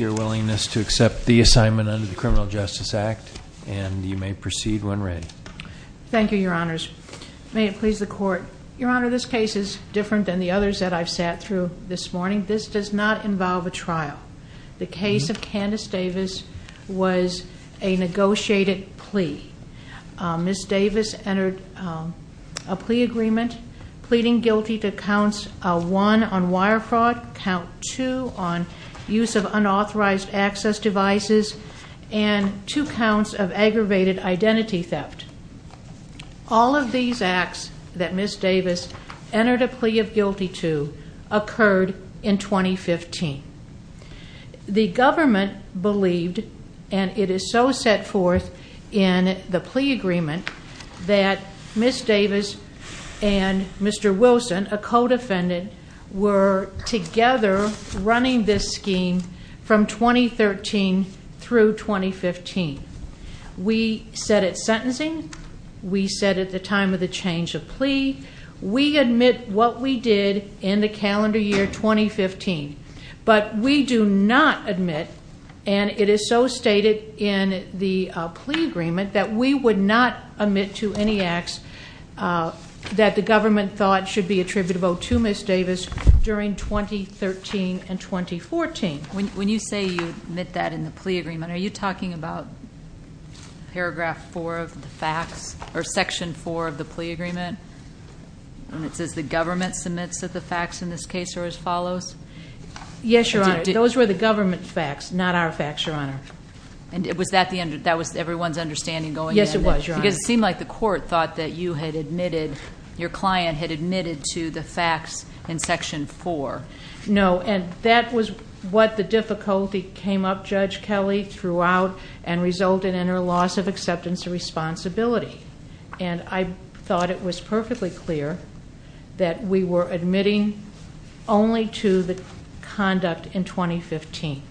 willingness to accept the assignment under the Criminal Justice Act, and you may proceed when ready. Thank you, your honors. May it please the court. Your honor, this case is different than the others that I've sat through this morning. This does not involve a trial. The case of Candice Davis was a negotiated plea. Ms. Davis entered a plea agreement, pleading guilty to counts one on wire fraud, count two on use of unauthorized access devices, and two counts of aggravated identity theft. All of these acts that Ms. Davis entered a plea of guilty to occurred in 2015. The government believed, and it is so set forth in the plea agreement, that Ms. Davis and Mr. Wilson, a co-defendant, were together running this scheme from 2013 through 2015. We set it sentencing, we set it the time of the change of plea. We admit what we did in the calendar year 2015. But we do not admit, and it is so stated in the plea agreement, that we would not admit to any acts that the government thought should be attributable to Ms. Davis during 2013 and 2014. When you say you admit that in the plea agreement, are you talking about paragraph four of the facts? Or section four of the plea agreement? And it says the government submits that the facts in this case are as follows? Yes, your honor. Those were the government facts, not our facts, your honor. And was that everyone's understanding going in? Yes, it was, your honor. Because it seemed like the court thought that you had admitted, your client had admitted to the facts in section four. No, and that was what the difficulty came up, Judge Kelly, throughout and resulted in her loss of acceptance and responsibility. And I thought it was perfectly clear that we were admitting only to the conduct in 2015.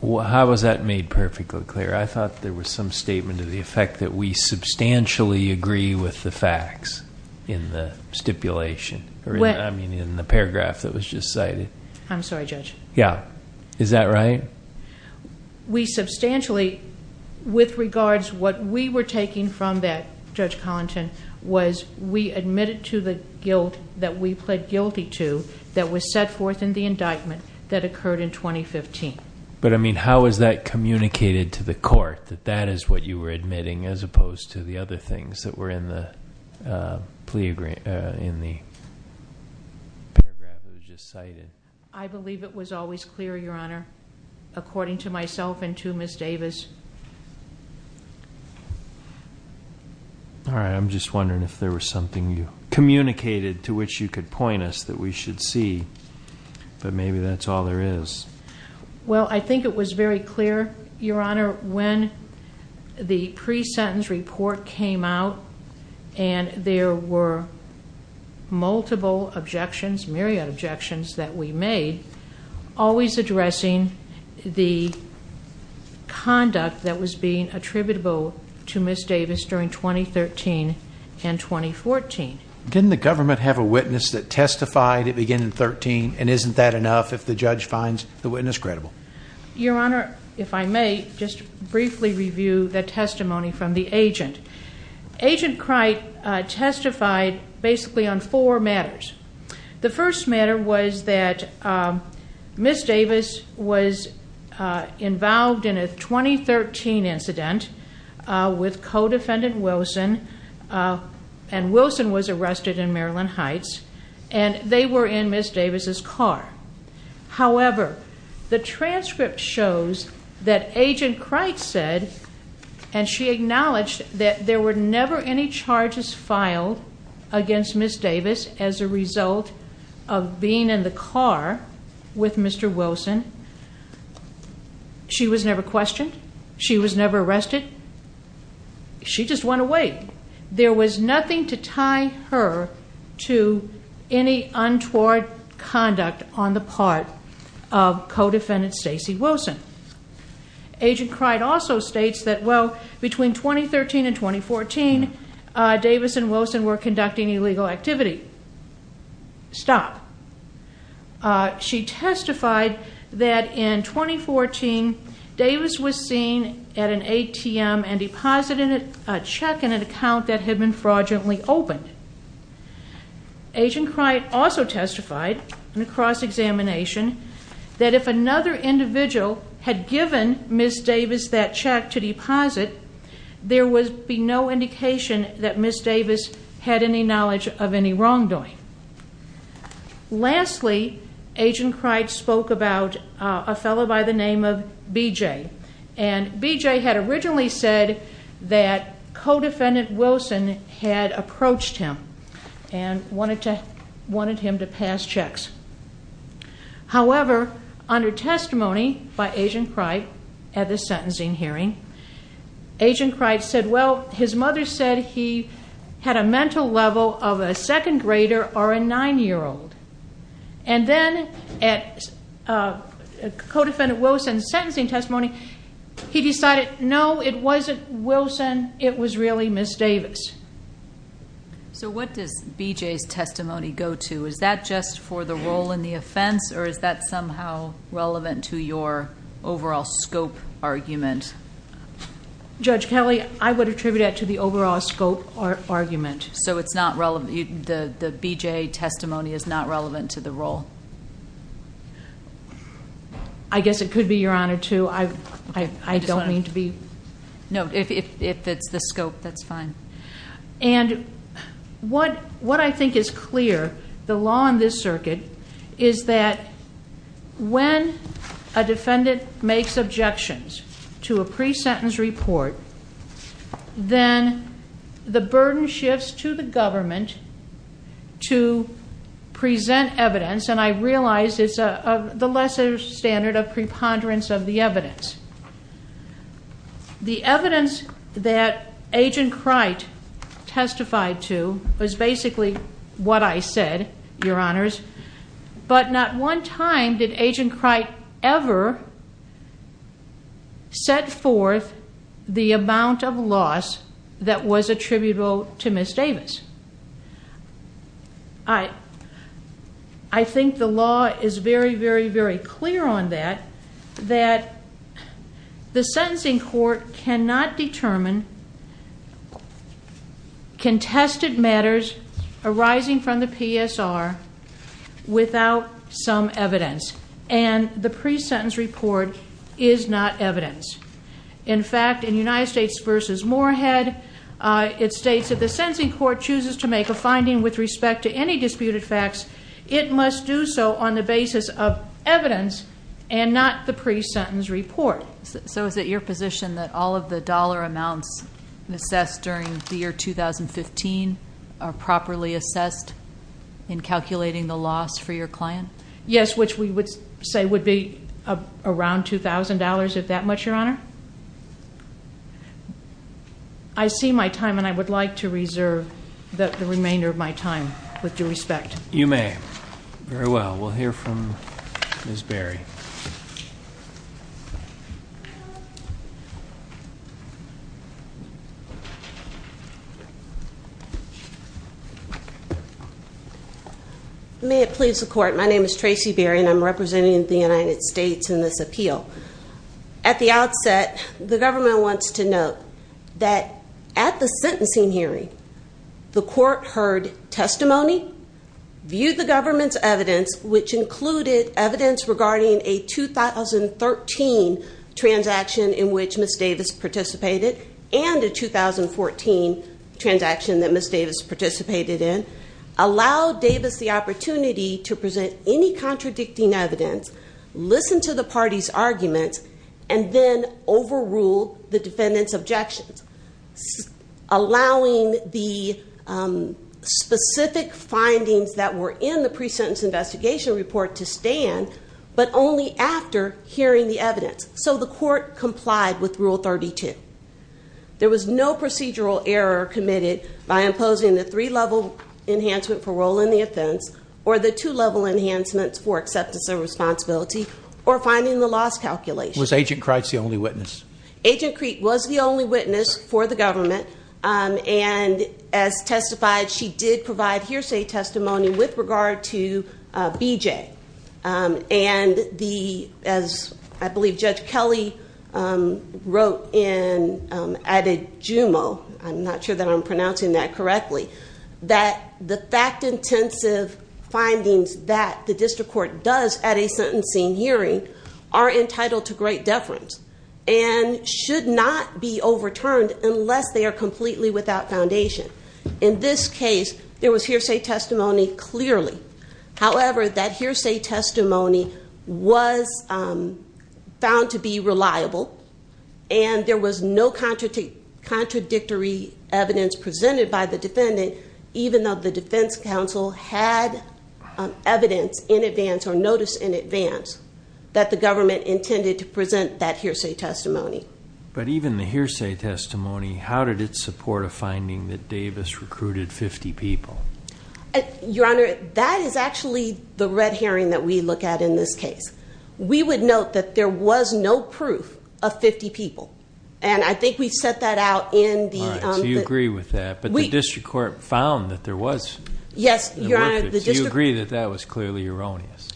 Well, how was that made perfectly clear? I thought there was some statement of the effect that we substantially agree with the facts in the stipulation. I mean, in the paragraph that was just cited. I'm sorry, Judge. Yeah, is that right? We substantially, with regards what we were taking from that, Judge Collington, was we admitted to the guilt that we pled guilty to that was set forth in the indictment that occurred in 2015. But I mean, how is that communicated to the court, that that is what you were admitting, as opposed to the other things that were in the plea agreement, in the paragraph that was just cited? I believe it was always clear, your honor, according to myself and to Ms. Davis. All right, I'm just wondering if there was something you communicated to which you could point us that we should see, but maybe that's all there is. Well, I think it was very clear, your honor, when the pre-sentence report came out, and there were multiple objections, myriad objections, that we made, always addressing the conduct that was being attributable to Ms. Davis during 2013 and 2014. Didn't the government have a witness that testified at the beginning of 13, and isn't that enough if the judge finds the witness credible? Your honor, if I may, just briefly review the testimony from the agent. Agent Cricht testified basically on four matters. The first matter was that Ms. Davis was involved in a 2013 incident with co-defendant Wilson. And Wilson was arrested in Maryland Heights, and they were in Ms. Davis' car. However, the transcript shows that Agent Cricht said, and as a result of being in the car with Mr. Wilson, she was never questioned, she was never arrested, she just went away. There was nothing to tie her to any untoward conduct on the part of co-defendant Stacey Wilson. Agent Cricht also states that, well, between 2013 and 2014, Davis and Wilson were conducting illegal activity. Stop. She testified that in 2014, Davis was seen at an ATM and deposited a check in an account that had been fraudulently opened. Agent Cricht also testified in a cross-examination that if another individual had given Ms. Davis that check to deposit, there would be no indication that Ms. Davis had any knowledge of any wrongdoing. Lastly, Agent Cricht spoke about a fellow by the name of BJ. And BJ had originally said that co-defendant Wilson had approached him and wanted him to pass checks. However, under testimony by Agent Cricht at the sentencing hearing, Agent Cricht said, well, his mother said he had a mental level of a second grader or a nine-year-old. And then at co-defendant Wilson's sentencing testimony, he decided, no, it wasn't Wilson, it was really Ms. Davis. So what does BJ's testimony go to? Is that just for the role in the offense, or is that somehow relevant to your overall scope argument? Judge Kelly, I would attribute that to the overall scope argument. So it's not relevant, the BJ testimony is not relevant to the role? I guess it could be, Your Honor, too. I don't mean to be. No, if it's the scope, that's fine. And what I think is clear, the law in this circuit is that when a defendant makes objections to a pre-sentence report, then the burden shifts to the government to present evidence. And I realize it's the lesser standard of preponderance of the evidence. The evidence that Agent Cricht testified to was basically what I said, Your Honors, but not one time did Agent Cricht ever set forth the amount of loss that was attributable to Ms. Davis. I think the law is very, very, very clear on that, that the sentencing court cannot determine contested matters arising from the PSR without some evidence. And the pre-sentence report is not evidence. In fact, in United States versus Morehead, it states that the sentencing court chooses to make a finding with respect to any disputed facts. It must do so on the basis of evidence and not the pre-sentence report. So is it your position that all of the dollar amounts assessed during the year 2015 are properly assessed in calculating the loss for your client? Yes, which we would say would be around $2,000, if that much, Your Honor. I see my time and I would like to reserve the remainder of my time with due respect. You may. Very well, we'll hear from Ms. Berry. May it please the court. My name is Tracy Berry and I'm representing the United States in this appeal. At the outset, the government wants to note that at the sentencing hearing, the court heard testimony, viewed the government's evidence, which included evidence regarding a 2013 transaction in which Ms. Davis participated and a 2014 transaction that Ms. Davis participated in. Allow Davis the opportunity to present any contradicting evidence, listen to the party's arguments, and then overrule the defendant's objections. Allowing the specific findings that were in the pre-sentence investigation report to stand, but only after hearing the evidence, so the court complied with rule 32. There was no procedural error committed by imposing the three level enhancement for role in the offense, or the two level enhancements for acceptance of responsibility, or finding the loss calculation. Was Agent Kreitz the only witness? Agent Kreitz was the only witness for the government, and as testified, she did provide hearsay testimony with regard to BJ. And as I believe Judge Kelly wrote and added jumo, I'm not sure that I'm pronouncing that correctly, that the fact intensive findings that the district court does at a sentencing hearing are entitled to great deference. And should not be overturned unless they are completely without foundation. In this case, there was hearsay testimony clearly. However, that hearsay testimony was found to be reliable, and there was no contradictory evidence presented by the defendant, even though the defense counsel had evidence in advance or had hearsay testimony. But even the hearsay testimony, how did it support a finding that Davis recruited 50 people? Your Honor, that is actually the red herring that we look at in this case. We would note that there was no proof of 50 people, and I think we set that out in the- All right, so you agree with that, but the district court found that there was. Yes, Your Honor, the district- Do you agree that that was clearly erroneous?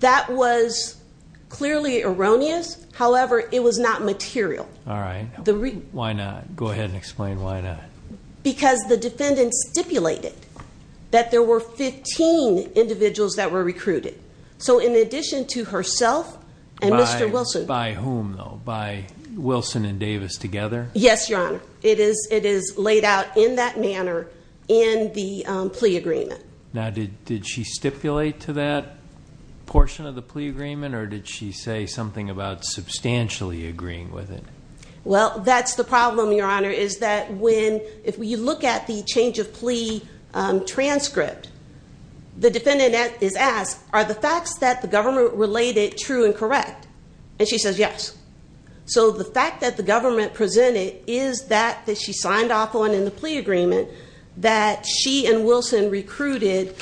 That was clearly erroneous, however, it was not material. All right, why not? Go ahead and explain why not. Because the defendant stipulated that there were 15 individuals that were recruited. So in addition to herself and Mr. Wilson- By whom though, by Wilson and Davis together? Yes, Your Honor, it is laid out in that manner in the plea agreement. Now, did she stipulate to that portion of the plea agreement, or did she say something about substantially agreeing with it? Well, that's the problem, Your Honor, is that when, if you look at the change of plea transcript, the defendant is asked, are the facts that the government related true and correct? And she says yes. So the fact that the government presented is that, that she signed off on in the plea agreement, that she and Wilson recruited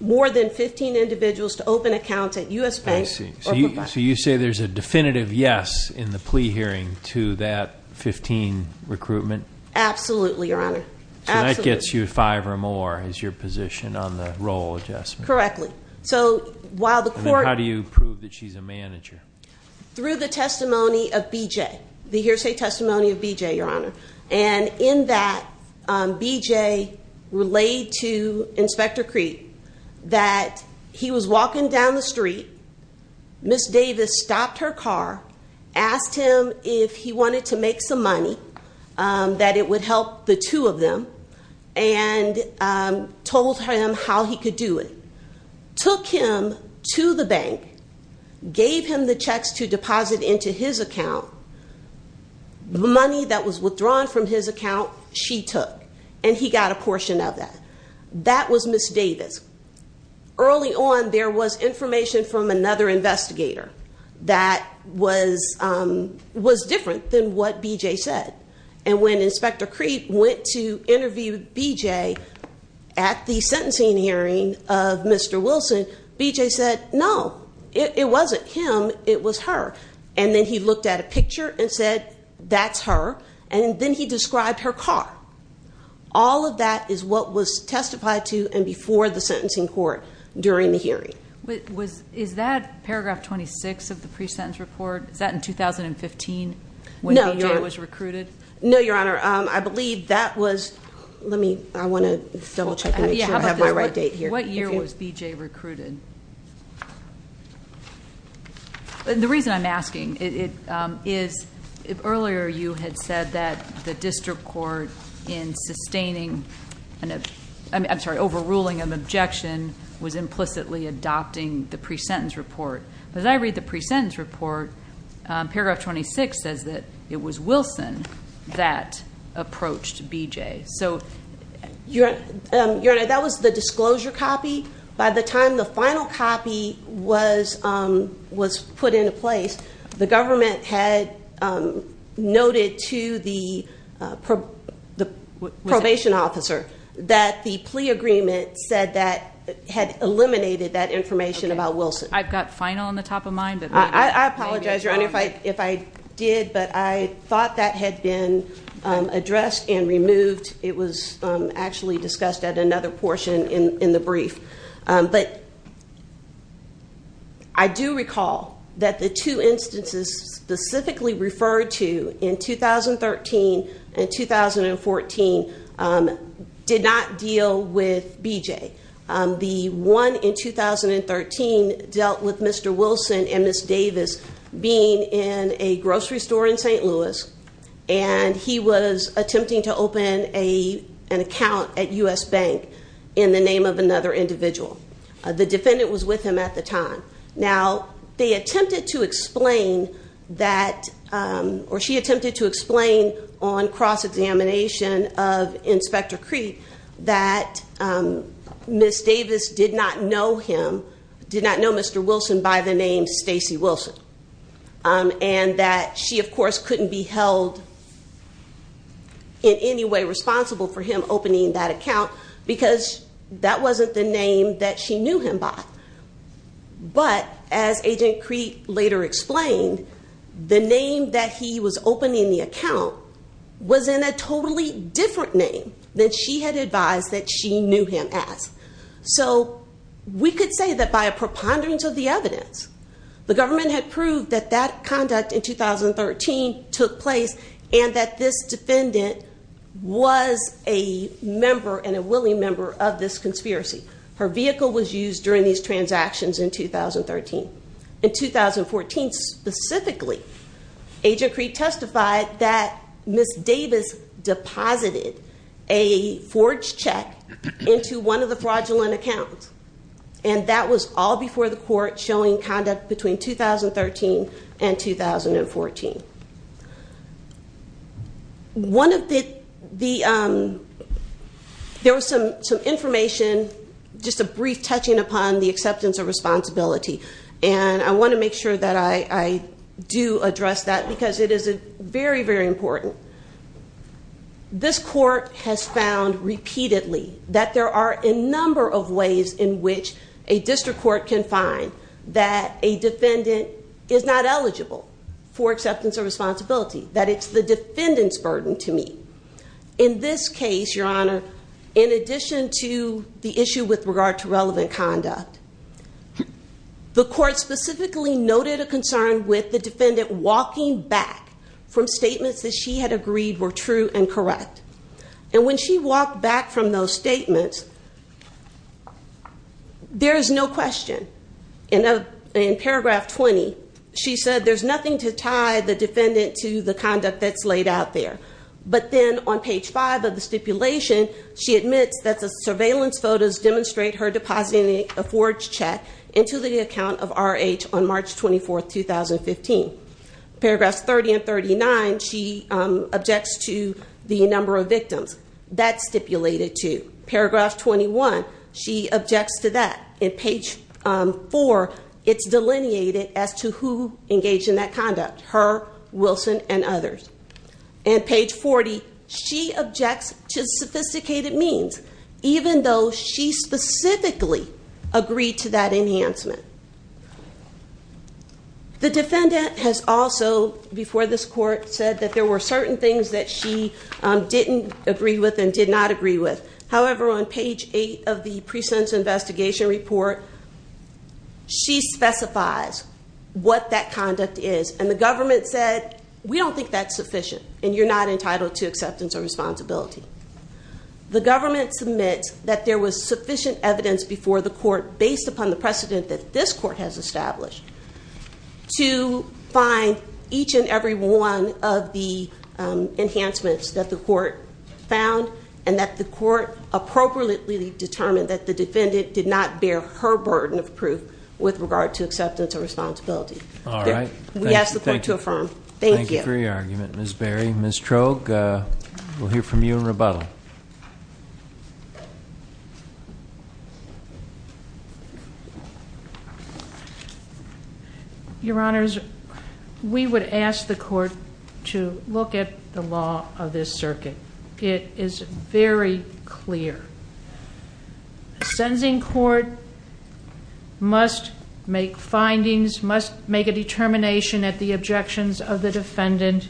more than 15 individuals to open accounts at US Bank or Profiteer. So you say there's a definitive yes in the plea hearing to that 15 recruitment? Absolutely, Your Honor. Absolutely. So that gets you five or more as your position on the role adjustment. Correctly. So while the court- And how do you prove that she's a manager? Through the testimony of BJ, the hearsay testimony of BJ, Your Honor. And in that, BJ relayed to Inspector Creed that he was walking down the street. Ms. Davis stopped her car, asked him if he wanted to make some money, that it would help the two of them, and told him how he could do it. Took him to the bank, gave him the checks to deposit into his account. The money that was withdrawn from his account, she took, and he got a portion of that. That was Ms. Davis. Early on, there was information from another investigator that was different than what BJ said. And when Inspector Creed went to interview BJ at the sentencing hearing of Mr. Wilson, BJ said, no, it wasn't him, it was her. And then he looked at a picture and said, that's her, and then he described her car. All of that is what was testified to and before the sentencing court during the hearing. Is that paragraph 26 of the pre-sentence report, is that in 2015, when BJ was recruited? No, Your Honor, I believe that was, let me, I want to double check and make sure I have my right date here. What year was BJ recruited? The reason I'm asking is, earlier you had said that the district court in sustaining, I'm sorry, overruling an objection was implicitly adopting the pre-sentence report. But as I read the pre-sentence report, paragraph 26 says that it was Wilson that approached BJ. So, Your Honor, that was the disclosure copy. By the time the final copy was put into place, the government had noted to the probation officer that the plea agreement said that it had eliminated that information about Wilson. Okay, I've got final on the top of mind. I apologize, Your Honor, if I did, but I thought that had been addressed and removed. It was actually discussed at another portion in the brief. But I do recall that the two instances specifically referred to in 2013 and 2014 did not deal with BJ. The one in 2013 dealt with Mr. Wilson and Ms. Davis being in a grocery store in St. Louis, and he was attempting to open an account at U.S. Bank in the name of another individual. The defendant was with him at the time. Now, they attempted to explain that, or she attempted to explain on cross-examination of Inspector Creek, that Ms. Davis did not know him, did not know Mr. Wilson by the name Stacy Wilson, and that she, of course, couldn't be held in any way responsible for him opening that account because that wasn't the name that she knew him by. But as Agent Creek later explained, the name that he was opening the account was in a totally different name than she had advised that she knew him as. So we could say that by a preponderance of the evidence, the government had proved that that conduct in 2013 took place and that this defendant was a member and a willing member of this conspiracy. Her vehicle was used during these transactions in 2013. In 2014, specifically, Agent Creek testified that Ms. Davis deposited a forged check into one of the fraudulent accounts, and that was all before the court showing conduct between 2013 and 2014. There was some information, just a brief touching upon the acceptance of responsibility, and I want to make sure that I do address that because it is very, very important. This court has found repeatedly that there are a number of ways in which a district court can find that a defendant is not eligible for acceptance of responsibility, that it's the defendant's burden to meet. In this case, Your Honor, in addition to the issue with regard to relevant conduct, the court specifically noted a concern with the defendant walking back from statements that she had agreed were true and correct. And when she walked back from those statements, there is no question. In paragraph 20, she said there's nothing to tie the defendant to the conduct that's laid out there. But then on page 5 of the stipulation, she admits that the surveillance photos demonstrate her depositing a forged check into the account of RH on March 24, 2015. Paragraphs 30 and 39, she objects to the number of victims. That's stipulated too. Paragraph 21, she objects to that. In page 4, it's delineated as to who engaged in that conduct, her, Wilson, and others. And page 40, she objects to sophisticated means, even though she specifically agreed to that enhancement. The defendant has also, before this court, said that there were certain things that she didn't agree with and did not agree with. However, on page 8 of the pre-sentence investigation report, she specifies what that conduct is. And the government said, we don't think that's sufficient, and you're not entitled to acceptance of responsibility. The government submits that there was sufficient evidence before the court, based upon the precedent that this court has established, to find each and every one of the enhancements that the court found. And that the court appropriately determined that the defendant did not bear her burden of proof with regard to acceptance of responsibility. We ask the court to affirm. Thank you. Thank you for your argument, Ms. Berry. Ms. Troge, we'll hear from you in rebuttal. Your Honors, we would ask the court to look at the law of this circuit. It is very clear. A sentencing court must make findings, must make a determination at the objections of the defendant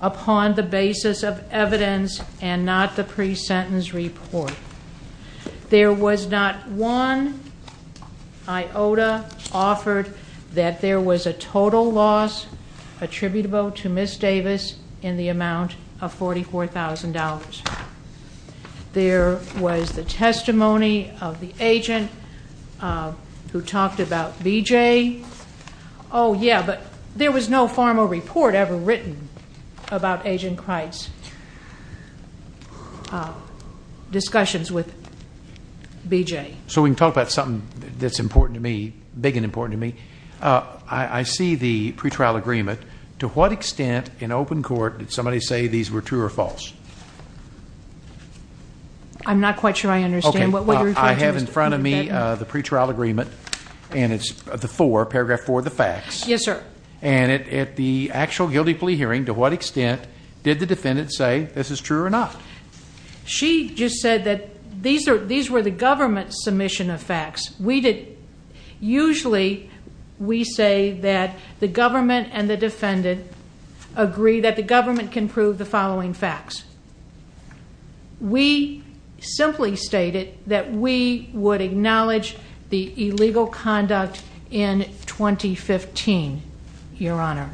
upon the basis of evidence and not the pre-sentence report. There was not one iota offered that there was a total loss attributable to Ms. Davis in the amount of $44,000. There was the testimony of the agent who talked about B.J. Oh, yeah, but there was no formal report ever written about Agent Cricht's discussions with B.J. So we can talk about something that's important to me, big and important to me. I see the pretrial agreement. To what extent in open court did somebody say these were true or false? I'm not quite sure I understand. Okay, well, I have in front of me the pretrial agreement, and it's the four, paragraph four of the facts. Yes, sir. And at the actual guilty plea hearing, to what extent did the defendant say this is true or not? She just said that these were the government's submission of facts. Usually, we say that the government and the defendant agree that the government can prove the following facts. We simply stated that we would acknowledge the illegal conduct in 2015, Your Honor.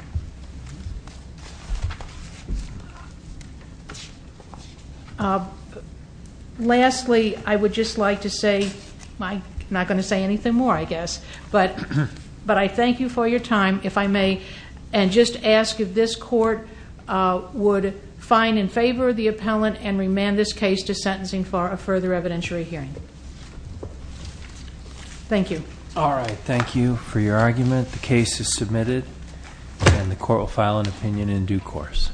Lastly, I would just like to say, I'm not going to say anything more, I guess, but I thank you for your time, if I may, and just ask if this court would find in favor of the appellant and remand this case to sentencing for a further evidentiary hearing. Thank you. All right, thank you for your argument. The case is submitted. And the court will file an opinion in due course.